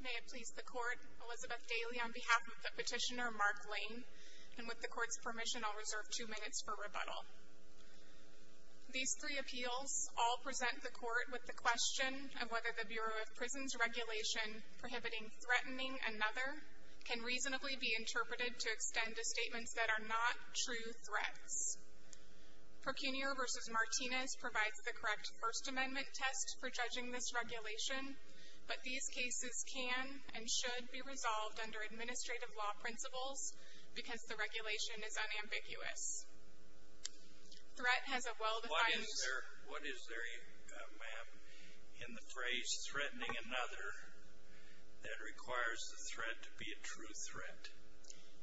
May it please the Court, Elizabeth Daly on behalf of the petitioner Mark Lane, and with the Court's permission I'll reserve two minutes for rebuttal. These three appeals all present the Court with the question of whether the Bureau of Prisons Regulation prohibiting threatening another can reasonably be interpreted to extend to statements that are not true threats. Procunior v. Martinez provides the correct First Amendment test for judging this regulation, but these cases can and should be resolved under administrative law principles because the regulation is unambiguous. Threat has a well-defined- What is there in the phrase threatening another that requires the threat to be a true threat?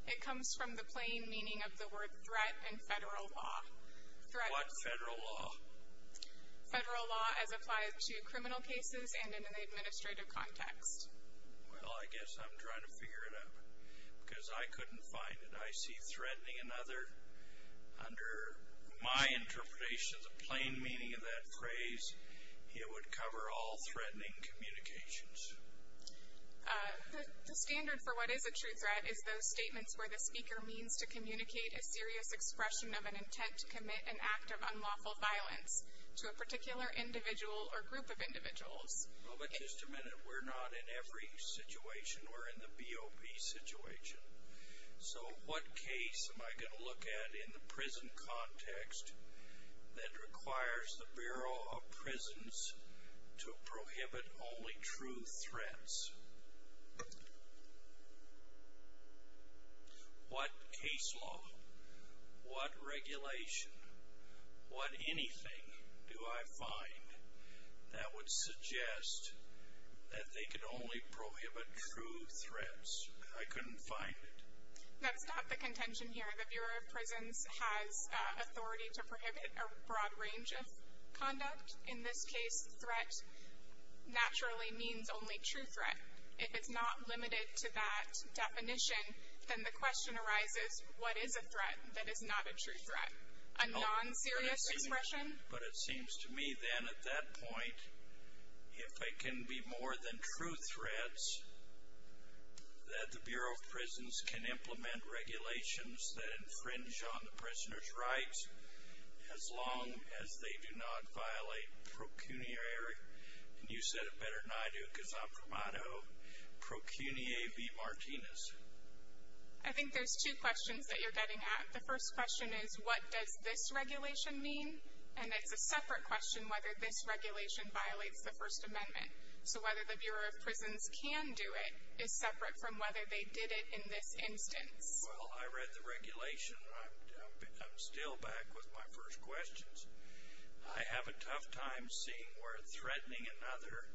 It comes from the plain meaning of the word threat in federal law. What federal law? Federal law as applied to criminal cases and in an administrative context. Well, I guess I'm trying to figure it out because I couldn't find it. I see threatening another under my interpretation of the plain meaning of that phrase, it would cover all threatening communications. The standard for what is a true threat is those statements where the speaker means to communicate a serious expression of an intent to commit an act of unlawful violence to a particular individual or group of individuals. Well, but just a minute, we're not in every situation, we're in the BOP situation. So what case am I going to look at in the prison context that requires the Bureau of Prisons to prohibit true threats? What case law, what regulation, what anything do I find that would suggest that they could only prohibit true threats? I couldn't find it. Let's stop the contention here. The Bureau of Prisons has authority to prohibit a broad range of conduct. In this case, threat naturally means only true threat. If it's not limited to that definition, then the question arises, what is a threat that is not a true threat? A non-serious expression? But it seems to me then at that point, if they can be more than true threats, that the Bureau of Prisons can implement regulations that infringe on the prisoner's rights as long as they do not violate pro cuneare. You said it better than I do because I'm from Idaho. Pro cuneare be Martinez. I think there's two questions that you're getting at. The first question is, what does this regulation mean? And it's a separate question whether this regulation violates the First Amendment. So whether the Bureau of Prisons can do it is separate from whether they did it in this instance. Well, I read the regulation and I'm still back with my first questions. I have a tough time seeing where threatening another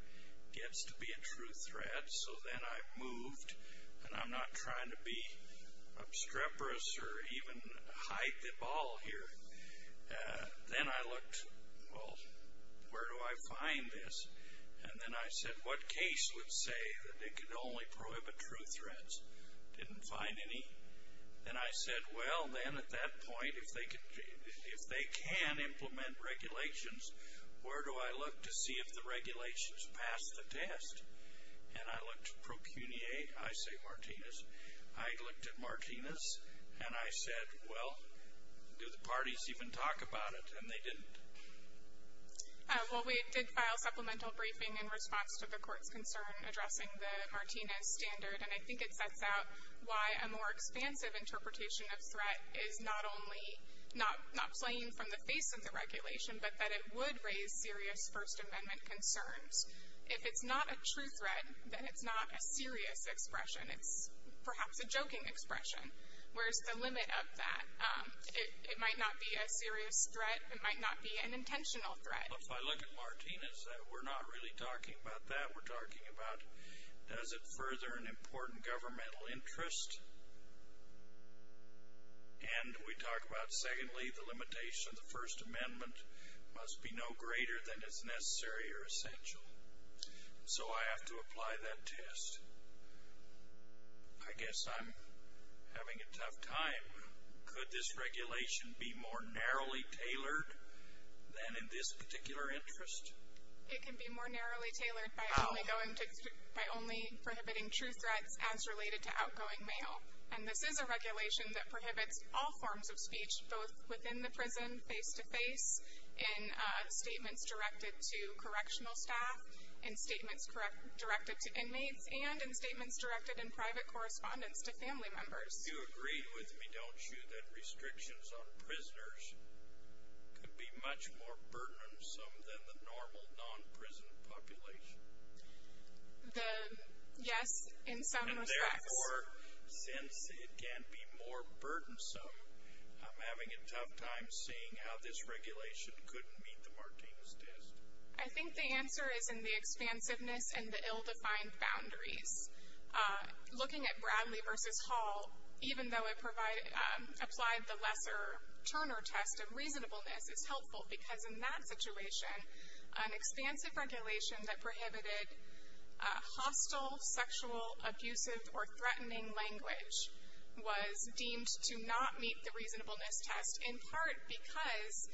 gets to be a true threat. So then I moved, and I'm not trying to be obstreperous or even hide the ball here. Then I looked, well, where do I find this? And then I said, what case would say that it can only prohibit true threats? Didn't find any. And I said, well, then at that point, if they can implement regulations, where do I look to see if the regulations pass the test? And I looked pro cuneare, I say Martinez. I looked at Martinez and I said, well, do the parties even talk about it? And they didn't. Well, we did file supplemental briefing in response to the court's concern addressing the Martinez standard, and I think it sets out why a more expansive interpretation of threat is not only not playing from the face of the regulation, but that it would raise serious First Amendment concerns. If it's not a true threat, then it's not a serious expression. It's perhaps a joking expression. Where's the limit of that? It might not be a serious threat. It might not be an intentional threat. If I look at Martinez, we're not really talking about that. We're talking about, does it further an important governmental interest? And we talk about, secondly, the limitation of the First Amendment must be no greater than is necessary or essential. So I have to apply that test. I guess I'm having a tough time. Could this regulation be more narrowly tailored than in this particular interest? It can be more narrowly tailored by only prohibiting true threats as related to outgoing mail. And this is a regulation that prohibits all forms of speech, both within the prison, face to face, in statements directed to correctional staff, in statements directed to inmates, and in statements directed in private correspondence to family members. You agree with me, don't you, that restrictions on prisoners could be much more burdensome than the normal non-prison population? Yes, in some respects. And therefore, since it can be more burdensome, I'm having a tough time seeing how this regulation couldn't meet the Martinez test. I think the answer is in the expansiveness and the ill-defined boundaries. Looking at Bradley v. Hall, even though it applied the lesser Turner test of reasonableness is helpful, because in that situation, an expansive regulation that prohibited hostile, sexual, abusive, or threatening language was deemed to not meet the reasonableness test, in part because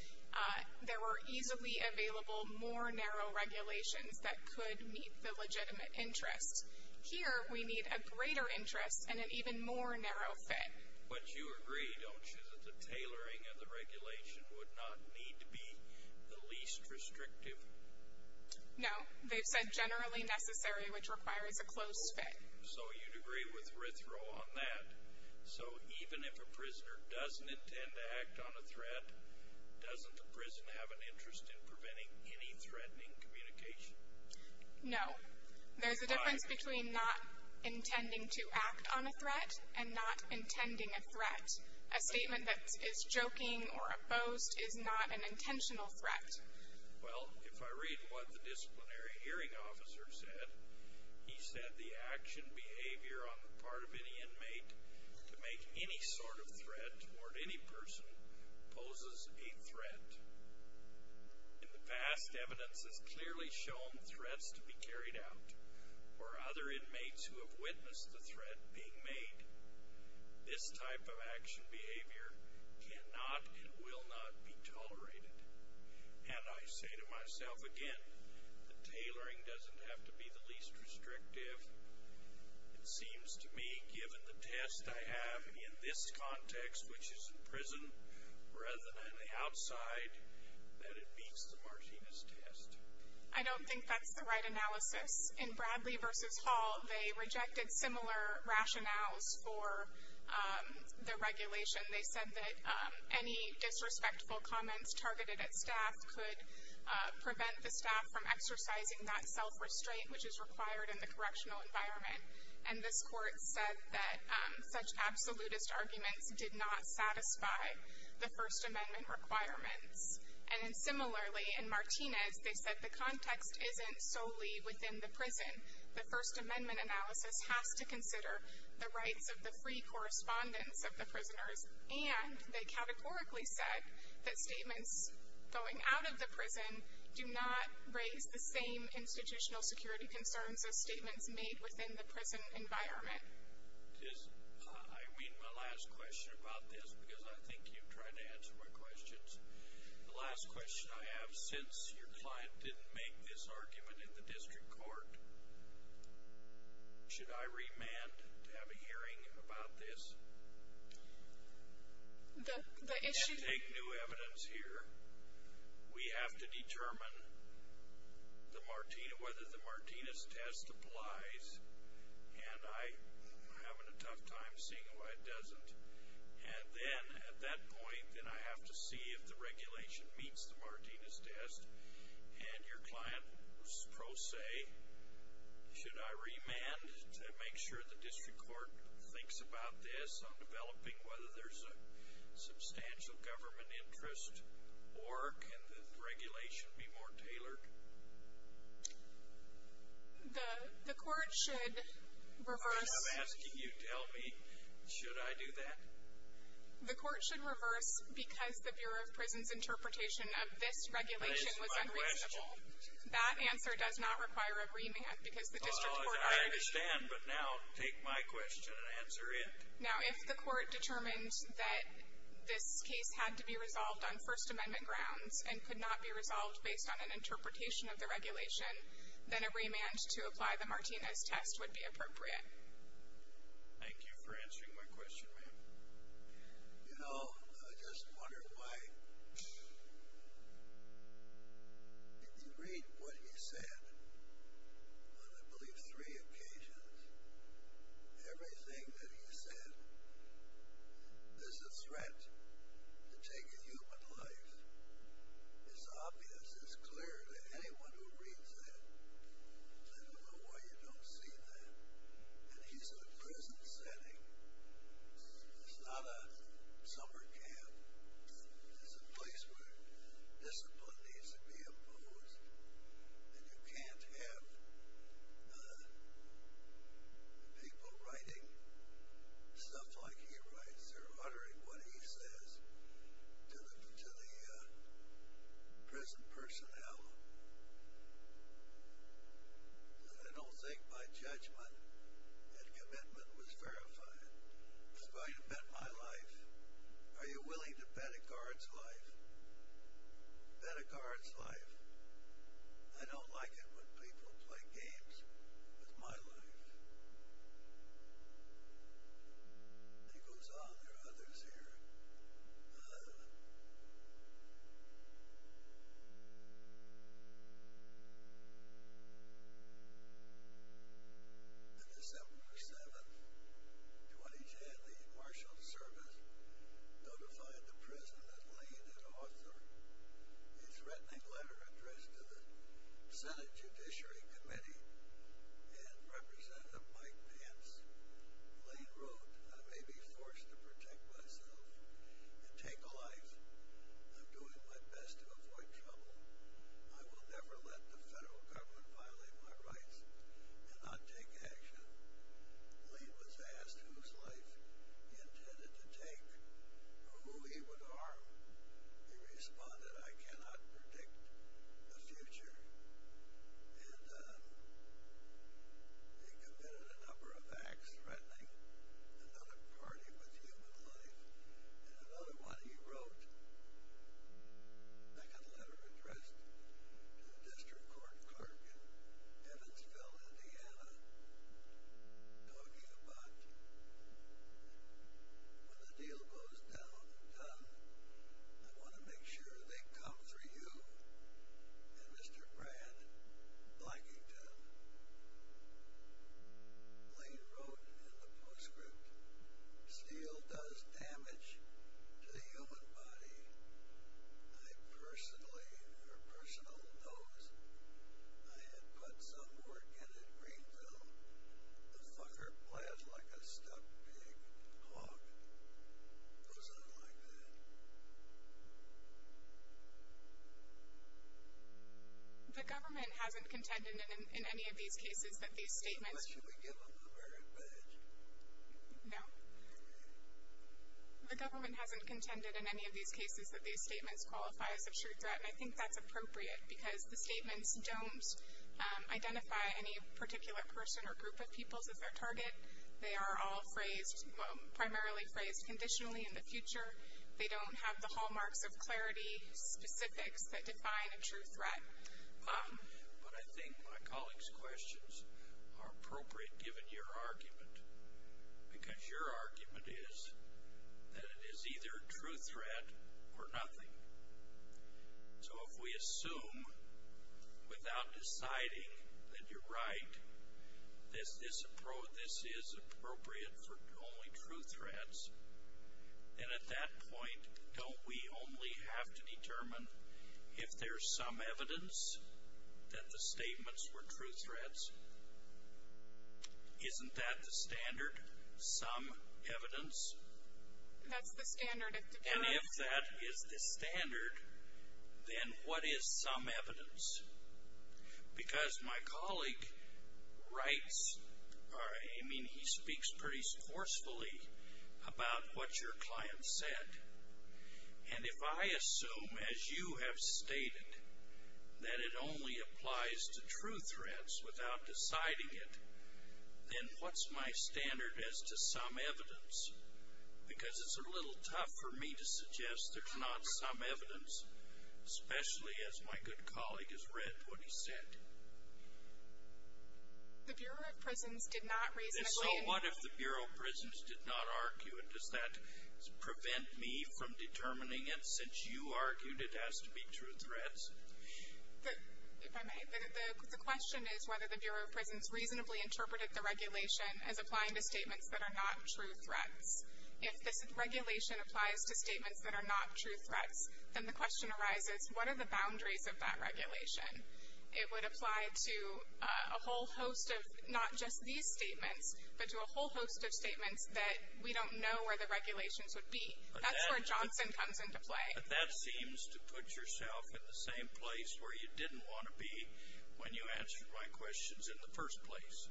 there were easily available more narrow regulations that could meet the legitimate interest. Here, we need a greater interest and an even more narrow fit. But you agree, don't you, that the tailoring of the regulation would not need to be the least restrictive? No. They've said generally necessary, which requires a close fit. So you'd agree with Rithrow on that. So even if a prisoner doesn't intend to act on a threat, doesn't the prison have an interest in preventing any threatening communication? No. There's a difference between not intending to act on a threat and not intending a threat. A statement that is joking or a boast is not an intentional threat. Well, if I read what the disciplinary hearing officer said, he said the action behavior on the part of any inmate to make any sort of threat toward any person poses a threat. In the past, evidence has clearly shown threats to be carried out or other inmates who have witnessed the threat being made. This type of action behavior cannot and will not be tolerated. And I say to myself again, the tailoring doesn't have to be the least restrictive. It seems to me, given the test I have in this context, which is in prison, rather than on the outside, that it meets the Martinez test. I don't think that's the right analysis. In Bradley v. Hall, they rejected similar rationales for the regulation. They said that any disrespectful comments targeted at staff could prevent the staff from exercising that self-restraint, which is required in the correctional environment. And this court said that such absolutist arguments did not satisfy the First Amendment requirements. And similarly, in Martinez, they said the context isn't solely within the prison. The First Amendment analysis has to consider the rights of the free correspondence of the prisoners, and they categorically said that statements going out of the prison do not raise the same institutional security concerns as statements made within the prison environment. I mean my last question about this, because I think you've tried to answer my questions. The last question I have, since your client didn't make this argument in the district court, should I remand to have a hearing about this? The issue- We have to take new evidence here. We have to determine whether the Martinez test applies. And I'm having a tough time seeing why it doesn't. And then at that point, then I have to see if the regulation meets the Martinez test. And your client was pro se, should I remand to make sure the district court thinks about this, on developing whether there's a substantial government interest, or can the regulation be more tailored? The court should reverse- I'm asking you, tell me, should I do that? The court should reverse because the Bureau of Prison's interpretation of this regulation was unreasonable. I understand, but now take my question and answer it. Now if the court determined that this case had to be resolved on First Amendment grounds and could not be resolved based on an interpretation of the regulation, then a remand to apply the Martinez test would be appropriate. Thank you for answering my question, ma'am. You know, I just wonder why, if you read what he said on, I believe, three occasions, everything that he said is a threat to taking human life. It's obvious, it's clear to anyone who reads that. I don't know why you don't see that. And he's in a prison setting. It's not a summer camp. It's a place where discipline needs to be imposed. And you can't have people writing stuff like he writes or uttering what he says to the prison personnel. I don't think my judgment and commitment was verified. He's going to bet my life. Are you willing to bet a guard's life? Bet a guard's life. I don't like it when people play games with my life. He goes on. There are others here. The December 7, 2010, the Marshals Service notified the prison that Lane had authored a threatening letter addressed to the Senate Judiciary Committee, and Representative Mike Pence. Lane wrote, I may be forced to protect myself and take a life. I'm doing my best to avoid trouble. I will never let the federal government violate my rights and not take action. Lane was asked whose life he intended to take or who he would harm. He responded, I cannot predict the future. And he committed a number of acts, threatening another party with human life. In another one, he wrote a second letter addressed to the district court clerk in Evansville, Indiana, talking about when the deal goes down, I want to make sure they come for you. And Mr. Brad Blackington. Lane wrote in the postscript, steel does damage to the human body. I personally, or personal, knows I had put some work in at Greenville. The fucker bled like a stuck pig. Fuck. It wasn't like that. The government hasn't contended in any of these cases that these statements. Unless you would give them the merit badge. No. The government hasn't contended in any of these cases that these statements qualify as a true threat, and I think that's appropriate, because the statements don't identify any particular person or group of peoples as their target. They are all phrased, primarily phrased conditionally in the future. They don't have the hallmarks of clarity specifics that define a true threat. But I think my colleague's questions are appropriate given your argument, because your argument is that it is either a true threat or nothing. So if we assume, without deciding that you're right, that this is appropriate for only true threats, then at that point don't we only have to determine if there's some evidence that the statements were true threats? Isn't that the standard, some evidence? That's the standard. And if that is the standard, then what is some evidence? Because my colleague writes or, I mean, he speaks pretty forcefully about what your client said. And if I assume, as you have stated, that it only applies to true threats without deciding it, then what's my standard as to some evidence? Because it's a little tough for me to suggest there's not some evidence, especially as my good colleague has read what he said. The Bureau of Prisons did not reasonably. So what if the Bureau of Prisons did not argue it? Does that prevent me from determining it since you argued it has to be true threats? If I may, the question is whether the Bureau of Prisons reasonably interpreted the regulation as applying to statements that are not true threats. If this regulation applies to statements that are not true threats, then the question arises, what are the boundaries of that regulation? It would apply to a whole host of not just these statements, but to a whole host of statements that we don't know where the regulations would be. That's where Johnson comes into play. But that seems to put yourself in the same place where you didn't want to be when you answered my questions in the first place,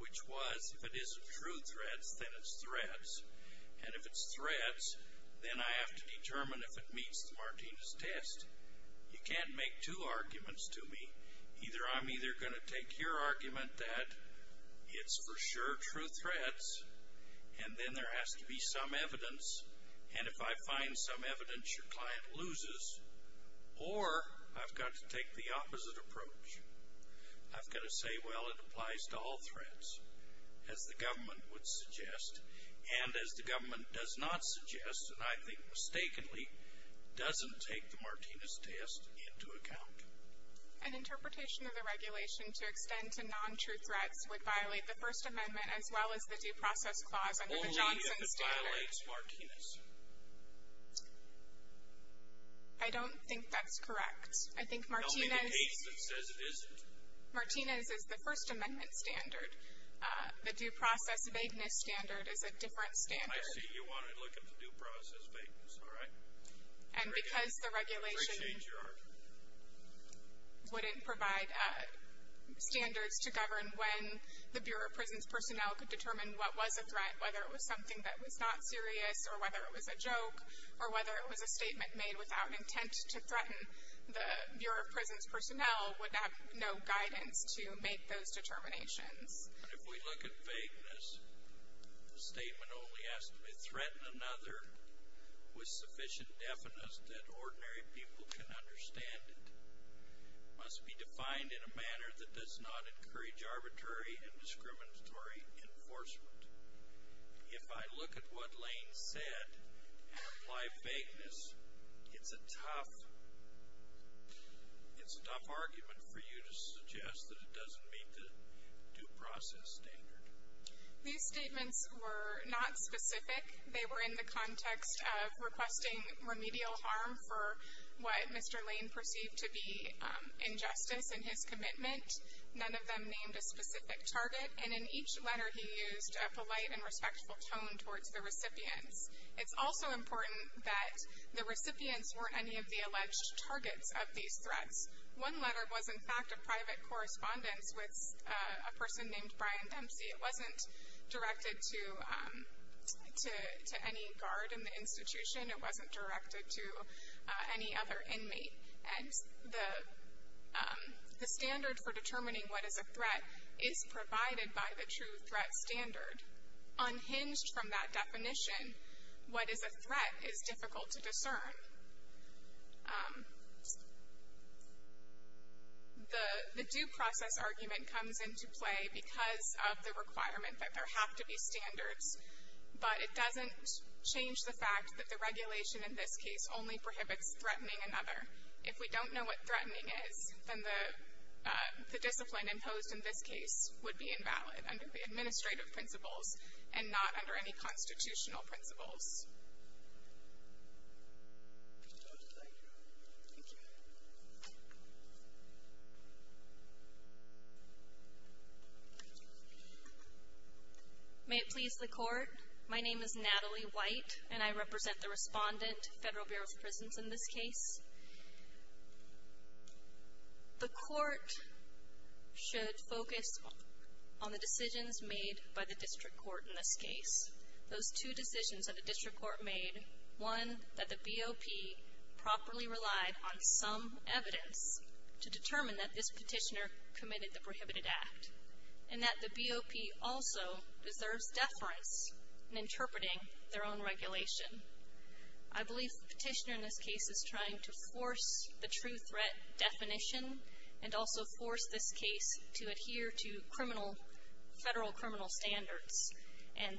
which was if it isn't true threats, then it's threats. And if it's threats, then I have to determine if it meets the Martinez test. You can't make two arguments to me. Either I'm either going to take your argument that it's for sure true threats, and then there has to be some evidence, and if I find some evidence your client loses, or I've got to take the opposite approach. I've got to say, well, it applies to all threats, as the government would suggest, and as the government does not suggest, and I think mistakenly, doesn't take the Martinez test into account. An interpretation of the regulation to extend to non-true threats would violate the First Amendment as well as the Due Process Clause under the Johnson standard. Only if it violates Martinez. I don't think that's correct. Don't be the case that says it isn't. Martinez is the First Amendment standard. The Due Process Vagueness standard is a different standard. I see you want to look at the Due Process Vagueness, all right. And because the regulation wouldn't provide standards to govern when the Bureau of Prisons personnel could determine what was a threat, whether it was something that was not serious, or whether it was a joke, or whether it was a statement made without intent to threaten the Bureau of Prisons personnel would have no guidance to make those determinations. But if we look at vagueness, a statement only has to be threatened another with sufficient definite that ordinary people can understand it. It must be defined in a manner that does not encourage arbitrary and discriminatory enforcement. If I look at what Lane said and apply vagueness, it's a tough argument for you to suggest that it doesn't meet the Due Process standard. These statements were not specific. They were in the context of requesting remedial harm for what Mr. Lane perceived to be injustice in his commitment. None of them named a specific target. And in each letter he used a polite and respectful tone towards the recipients. It's also important that the recipients weren't any of the alleged targets of these threats. One letter was, in fact, a private correspondence with a person named Brian Dempsey. It wasn't directed to any guard in the institution. It wasn't directed to any other inmate. And the standard for determining what is a threat is provided by the true threat standard. Unhinged from that definition, what is a threat is difficult to discern. The Due Process argument comes into play because of the requirement that there have to be standards, but it doesn't change the fact that the regulation in this case only prohibits threatening another. If we don't know what threatening is, then the discipline imposed in this case would be invalid under the administrative principles and not under any constitutional principles. Thank you. May it please the Court. My name is Natalie White, and I represent the respondent, Federal Bureau of Prisons, in this case. The Court should focus on the decisions made by the district court in this case. Those two decisions that the district court made, one, that the BOP properly relied on some evidence to determine that this petitioner committed the prohibited act, and that the BOP also deserves deference in interpreting their own regulation. I believe the petitioner in this case is trying to force the true threat definition and also force this case to adhere to federal criminal standards. And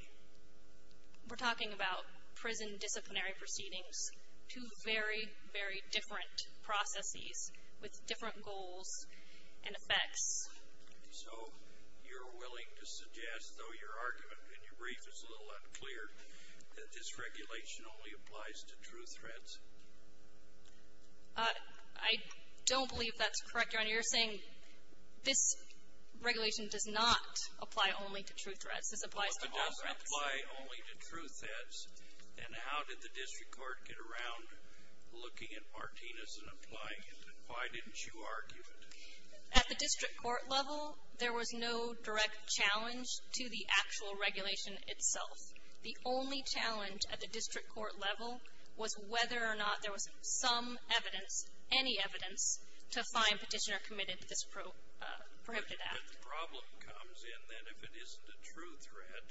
we're talking about prison disciplinary proceedings, two very, very different processes with different goals and effects. So you're willing to suggest, though your argument in your brief is a little unclear, that this regulation only applies to true threats? I don't believe that's correct, Your Honor. Your Honor, you're saying this regulation does not apply only to true threats. This applies to BOP threats. Well, if it doesn't apply only to true threats, then how did the district court get around looking at Martinez and applying it? Why didn't you argue it? At the district court level, there was no direct challenge to the actual regulation itself. The only challenge at the district court level was whether or not there was some evidence, any evidence, to find petitioner committed to this prohibited act. But the problem comes in that if it isn't a true threat,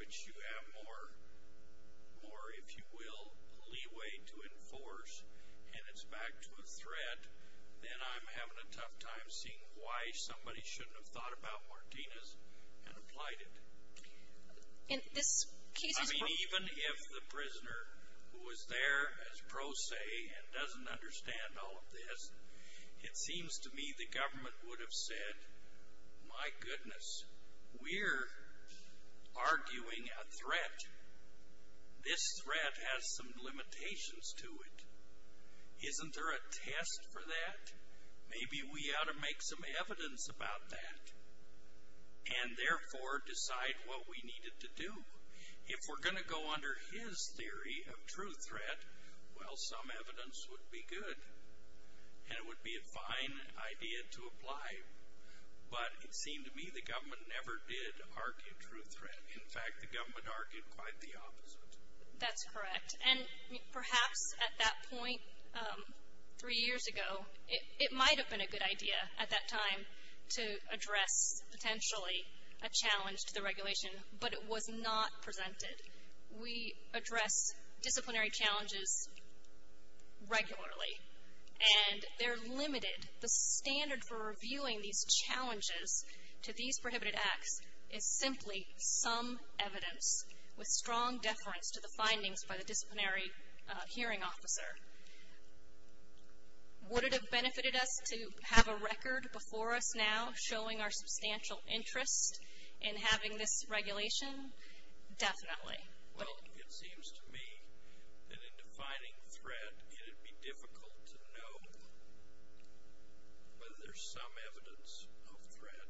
which you have more, if you will, leeway to enforce and it's back to a threat, then I'm having a tough time seeing why somebody shouldn't have thought about Martinez and applied it. I mean, even if the prisoner was there as pro se and doesn't understand all of this, it seems to me the government would have said, my goodness, we're arguing a threat. This threat has some limitations to it. Isn't there a test for that? Maybe we ought to make some evidence about that and therefore decide what we needed to do. If we're going to go under his theory of true threat, well, some evidence would be good and it would be a fine idea to apply. But it seemed to me the government never did argue true threat. In fact, the government argued quite the opposite. That's correct. And perhaps at that point three years ago, it might have been a good idea at that time to address potentially a challenge to the regulation, but it was not presented. We address disciplinary challenges regularly and they're limited. The standard for reviewing these challenges to these prohibited acts is simply some evidence with strong deference to the findings by the disciplinary hearing officer. Would it have benefited us to have a record before us now showing our substantial interest in having this regulation? Definitely. Well, it seems to me that in defining threat, it would be difficult to know whether there's some evidence of threat,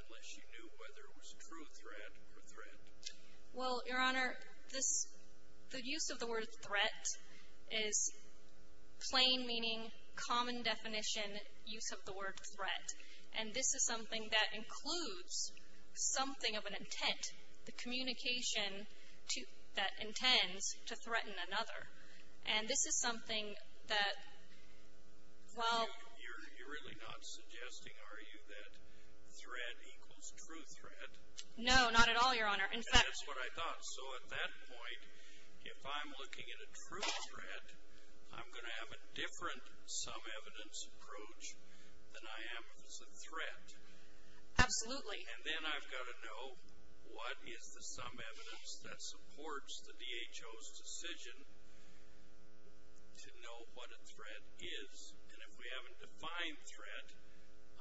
unless you knew whether it was true threat or threat. Well, Your Honor, the use of the word threat is plain meaning, common definition use of the word threat. And this is something that includes something of an intent, the communication that intends to threaten another. And this is something that while... You're really not suggesting, are you, that threat equals true threat? No, not at all, Your Honor. And that's what I thought. So at that point, if I'm looking at a true threat, I'm going to have a different some evidence approach than I am if it's a threat. Absolutely. And then I've got to know what is the some evidence that supports the DHO's decision to know what a threat is. And if we haven't defined threat,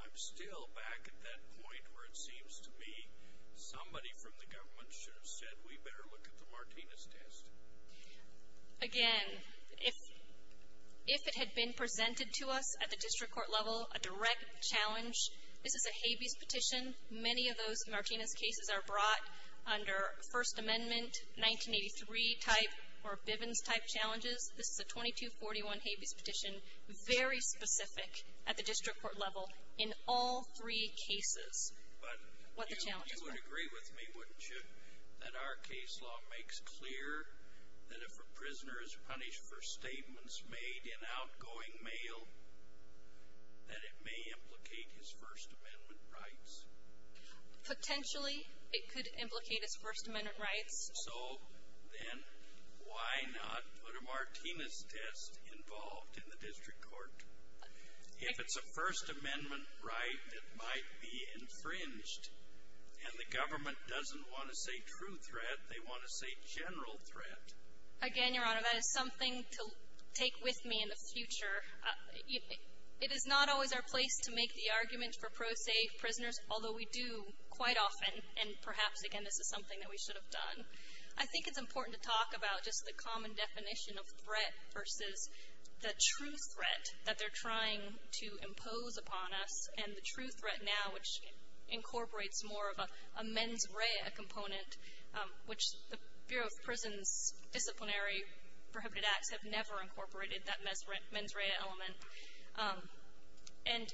I'm still back at that point where it seems to me somebody from the government should have said we better look at the Martinez test. Again, if it had been presented to us at the district court level, a direct challenge, this is a habeas petition. Many of those Martinez cases are brought under First Amendment, 1983 type or Bivens type challenges. This is a 2241 habeas petition, very specific at the district court level in all three cases what the challenges were. But you would agree with me, wouldn't you, that our case law makes clear that if a prisoner is punished for statements made in outgoing mail, that it may implicate his First Amendment rights? Potentially it could implicate his First Amendment rights. So then why not put a Martinez test involved in the district court? If it's a First Amendment right that might be infringed and the government doesn't want to say true threat, they want to say general threat. Again, Your Honor, that is something to take with me in the future. It is not always our place to make the argument for pro se prisoners, although we do quite often, and perhaps, again, this is something that we should have done. I think it's important to talk about just the common definition of threat versus the true threat that they're trying to impose upon us, and the true threat now which incorporates more of a mens rea component, which the Bureau of Prisons' disciplinary prohibited acts have never incorporated that mens rea element. And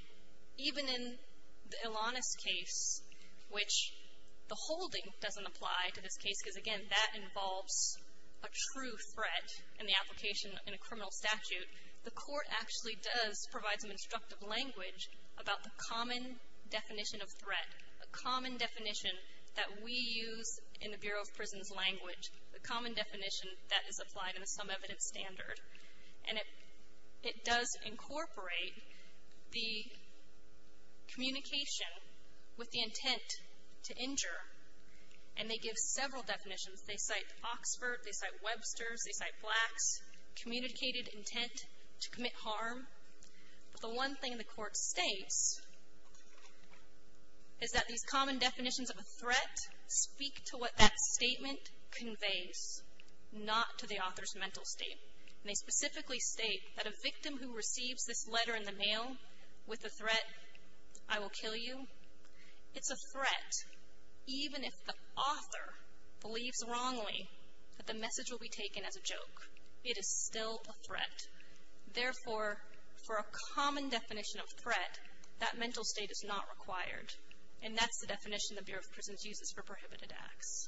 even in the Ilanis case, which the holding doesn't apply to this case, because, again, that involves a true threat in the application in a criminal statute, the court actually does provide some instructive language about the common definition of threat, a common definition that we use in the Bureau of Prisons' language, a common definition that is applied in a sum evidence standard. And it does incorporate the communication with the intent to injure, and they give several definitions. They cite Oxford, they cite Webster's, they cite Black's communicated intent to commit harm. But the one thing the court states is that these common definitions of a threat speak to what that statement conveys, not to the author's mental state. And they specifically state that a victim who receives this letter in the mail with the threat, I will kill you, it's a threat, even if the author believes wrongly that the message will be taken as a joke. It is still a threat. Therefore, for a common definition of threat, that mental state is not required. And that's the definition the Bureau of Prisons uses for prohibited acts.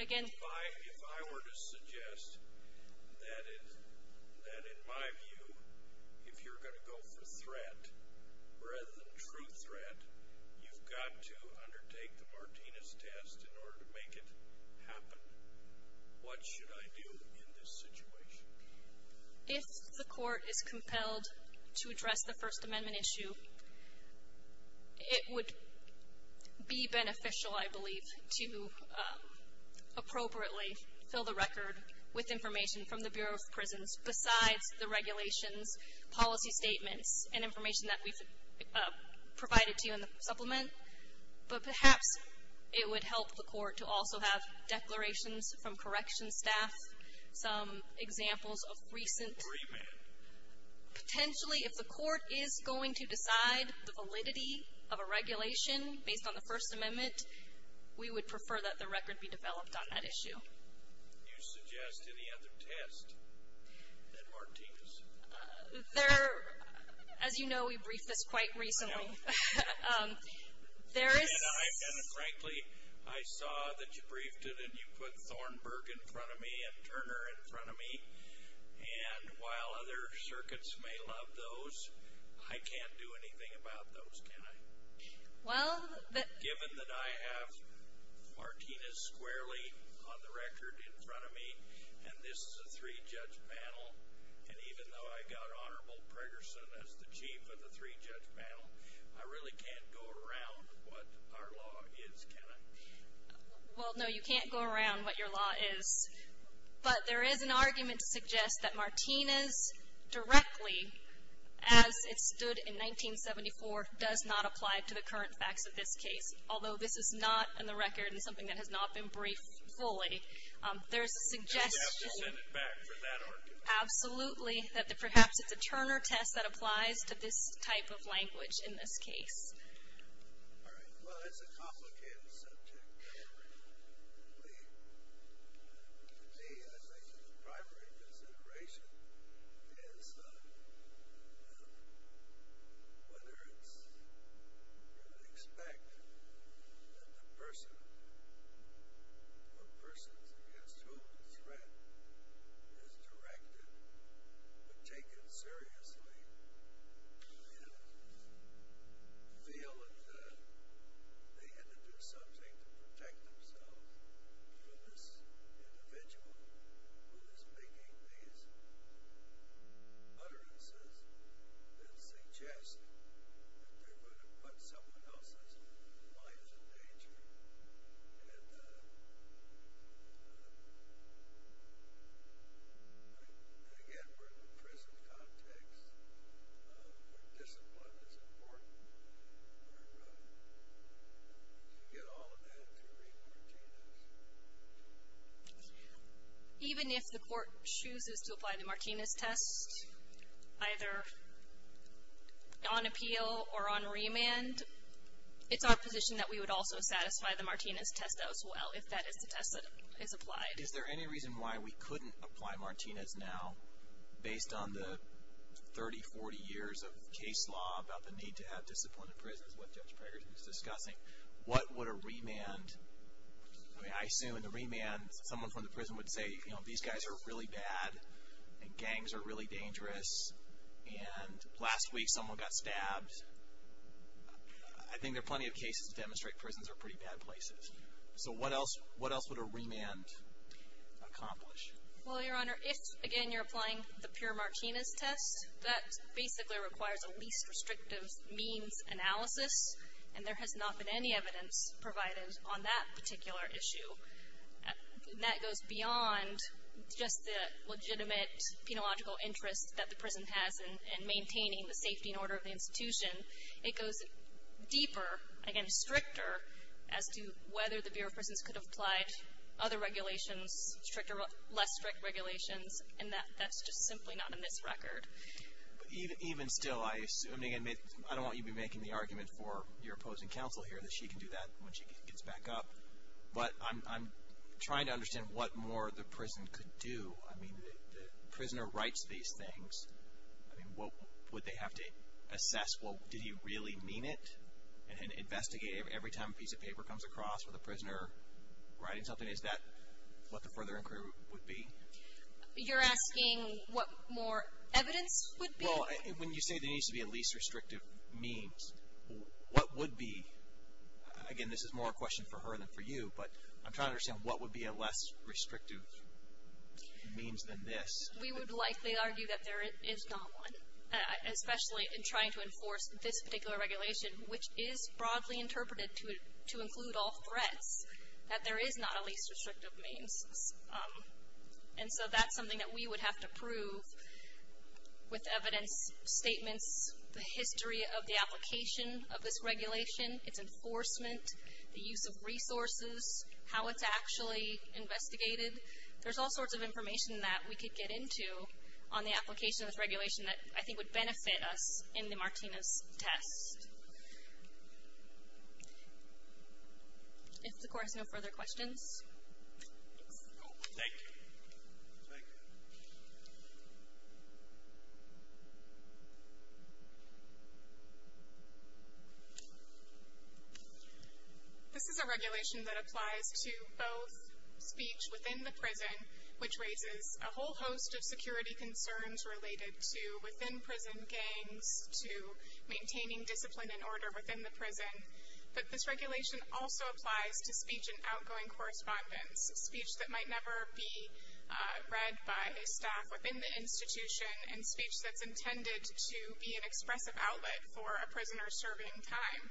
Again. If I were to suggest that in my view, if you're going to go for threat, rather than true threat, you've got to undertake the Martinez test in order to make it happen. What should I do in this situation? If the court is compelled to address the First Amendment issue, it would be beneficial, I believe, to appropriately fill the record with information from the Bureau of Prisons besides the regulations, policy statements, and information that we've provided to you in the supplement. But perhaps it would help the court to also have declarations from corrections staff, some examples of recent. Potentially, if the court is going to decide the validity of a regulation based on the First Amendment, we would prefer that the record be developed on that issue. There, as you know, we briefed this quite recently. There is. Frankly, I saw that you briefed it, and you put Thornburg in front of me and Turner in front of me. And while other circuits may love those, I can't do anything about those, can I? Given that I have Martinez squarely on the record in front of me, and this is a three-judge panel, and even though I got Honorable Pregerson as the chief of the three-judge panel, I really can't go around what our law is, can I? Well, no, you can't go around what your law is. But there is an argument to suggest that Martinez directly, as it stood in 1974, does not apply to the current facts of this case, although this is not on the record and something that has not been briefed fully. There is a suggestion. And we have to send it back for that argument. Absolutely, that perhaps it's a Turner test that applies to this type of language in this case. All right. Well, it's a complicated subject. To me, I think the primary consideration is whether it's going to expect that the person or persons against whom the threat is directed would take it seriously and feel that they had to do something to protect themselves from this individual who is making these utterances that suggest that they're going to put someone else's life in danger and, again, we're in the prison context. Discipline is important. And you get all of that through Reed-Martinez. Even if the court chooses to apply the Martinez test, either on appeal or on remand, it's our position that we would also satisfy the Martinez test as well, if that is the test that is applied. Is there any reason why we couldn't apply Martinez now, based on the 30, 40 years of case law about the need to have discipline in prison, is what Judge Prager is discussing. What would a remand, I mean, I assume in the remand someone from the prison would say, you know, these guys are really bad and gangs are really dangerous, and last week someone got stabbed. I think there are plenty of cases that demonstrate prisons are pretty bad places. So what else would a remand accomplish? Well, Your Honor, if, again, you're applying the pure Martinez test, that basically requires a least restrictive means analysis, and there has not been any evidence provided on that particular issue. So that goes beyond just the legitimate penological interest that the prison has in maintaining the safety and order of the institution. It goes deeper, again, stricter, as to whether the Bureau of Prisons could have applied other regulations, less strict regulations, and that's just simply not in this record. Even still, I assume, and again, I don't want you to be making the argument for your opposing counsel here that she can do that when she gets back up. But I'm trying to understand what more the prison could do. I mean, the prisoner writes these things. I mean, would they have to assess, well, did he really mean it, and investigate every time a piece of paper comes across with a prisoner writing something? Is that what the further inquiry would be? You're asking what more evidence would be? Well, when you say there needs to be a least restrictive means, what would be? Again, this is more a question for her than for you, but I'm trying to understand what would be a less restrictive means than this. We would likely argue that there is not one, especially in trying to enforce this particular regulation, which is broadly interpreted to include all threats, that there is not a least restrictive means. And so that's something that we would have to prove with evidence, statements, the history of the application of this regulation, its enforcement, the use of resources, how it's actually investigated. There's all sorts of information that we could get into on the application of this regulation that I think would benefit us in the Martinez test. If the Court has no further questions. Thank you. Thank you. This is a regulation that applies to both speech within the prison, which raises a whole host of security concerns related to within-prison gangs, to maintaining discipline and order within the prison. But this regulation also applies to speech in outgoing correspondence, speech that might never be read by staff within the institution and speech that's intended to be an expressive outlet for a prisoner serving time.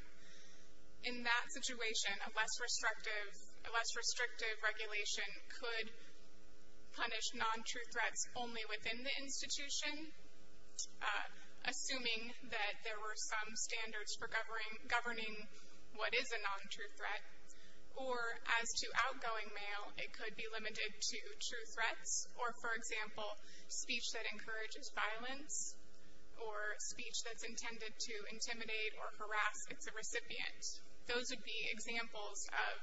In that situation, a less restrictive regulation could punish non-true threats only within the institution, assuming that there were some standards for governing what is a non-true threat. Or as to outgoing mail, it could be limited to true threats, or for example, speech that encourages violence or speech that's intended to intimidate or harass its recipient. Those would be examples of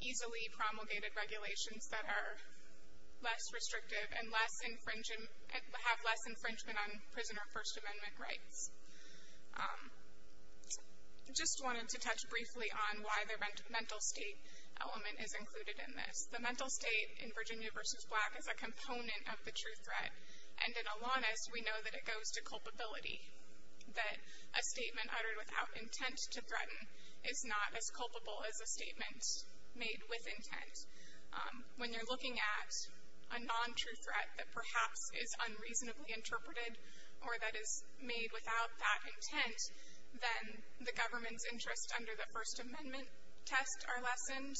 easily promulgated regulations that are less restrictive and have less infringement on prisoner First Amendment rights. I just wanted to touch briefly on why the mental state element is included in this. The mental state in Virginia v. Black is a component of the true threat. And in Alanis, we know that it goes to culpability, that a statement uttered without intent to threaten is not as culpable as a statement made with intent. When you're looking at a non-true threat that perhaps is unreasonably interpreted or that is made without that intent, then the government's interests under the First Amendment test are lessened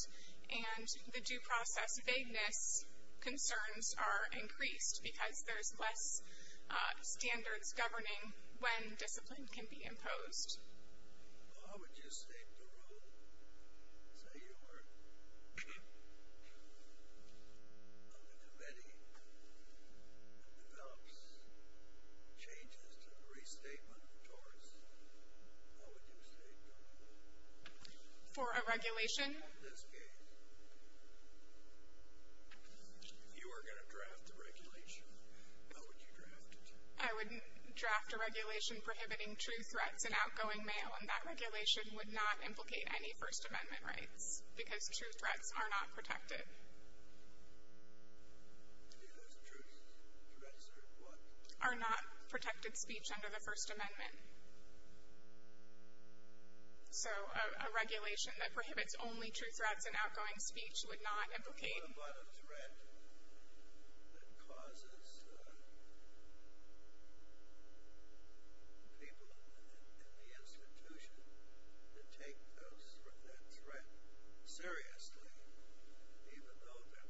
and the due process vagueness concerns are increased because there's less standards governing when discipline can be imposed. Well, how would you state the rule? Say you were on a committee that develops changes to the restatement of torts. How would you state the rule? For a regulation? In this case. You were going to draft the regulation. How would you draft it? I would draft a regulation prohibiting true threats in outgoing mail, and that regulation would not implicate any First Amendment rights because true threats are not protected. Because true threats are what? Are not protected speech under the First Amendment. So a regulation that prohibits only true threats in outgoing speech would not implicate. What about a threat that causes people in the institution to take that threat seriously, even though the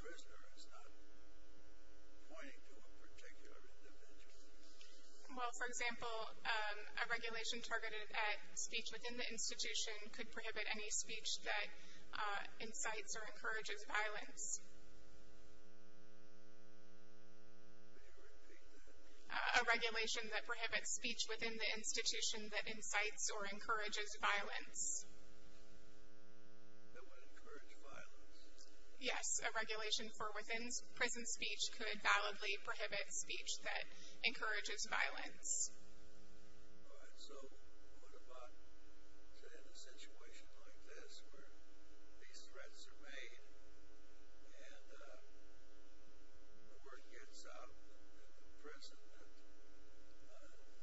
prisoner is not pointing to a particular individual? Well, for example, a regulation targeted at speech within the institution could prohibit any speech that incites or encourages violence. Can you repeat that? A regulation that prohibits speech within the institution that incites or encourages violence. That would encourage violence? Yes. A regulation for within-prison speech could validly prohibit speech that encourages violence. All right. So what about in a situation like this where these threats are made and the word gets out in the prison that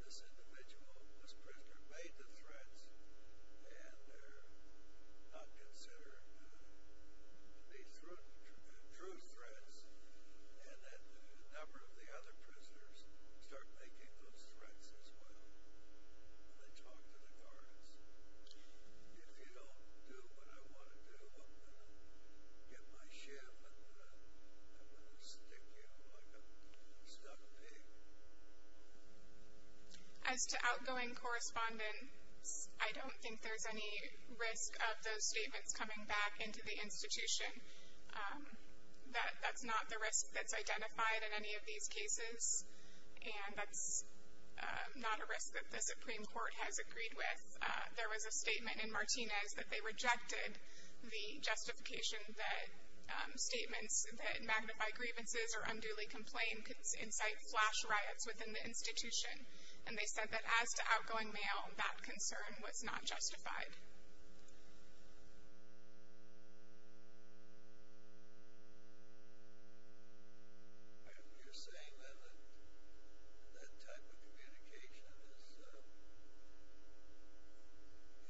this individual, this prisoner, made the threats and they're not considered to be true threats, and then a number of the other prisoners start making those threats as well. And they talk to the guards. If you don't do what I want to do, I'm going to get my ship and I'm going to stick you like a stuck pig. As to outgoing correspondence, I don't think there's any risk of those statements coming back into the institution. That's not the risk that's identified in any of these cases, and that's not a risk that the Supreme Court has agreed with. There was a statement in Martinez that they rejected the justification that statements that magnify grievances or unduly complain could incite flash riots within the institution, and they said that as to outgoing mail, that concern was not justified. You're saying that that type of communication is limited circulation,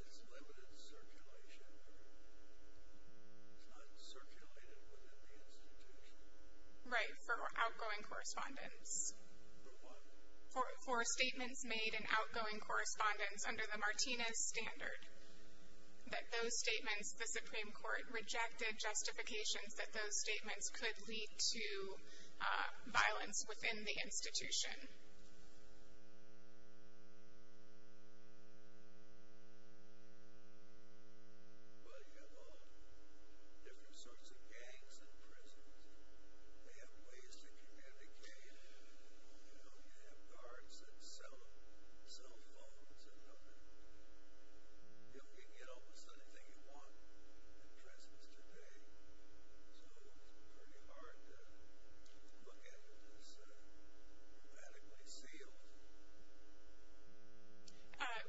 or it's not circulated within the institution? Right, for outgoing correspondence. For what? For statements made in outgoing correspondence under the Martinez standard, that those statements, the Supreme Court rejected justifications that those statements could lead to violence within the institution. Well, you have all different sorts of gangs in prisons. They have ways to communicate. You know, you have guards that sell phones and help you get almost anything you want at Christmas today, so it's pretty hard to look at it as radically sealed.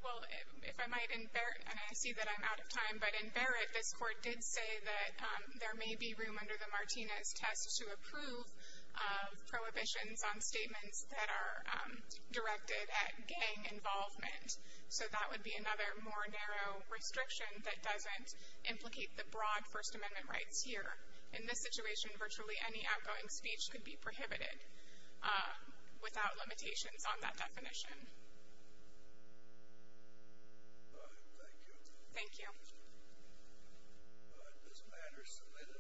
Well, if I might, and I see that I'm out of time, but in Barrett, this court did say that there may be room under the Martinez test to approve prohibitions on statements that are directed at gang involvement, so that would be another more narrow restriction that doesn't implicate the broad First Amendment rights here. In this situation, virtually any outgoing speech could be prohibited without limitations on that definition. All right, thank you. Thank you. This matter is submitted.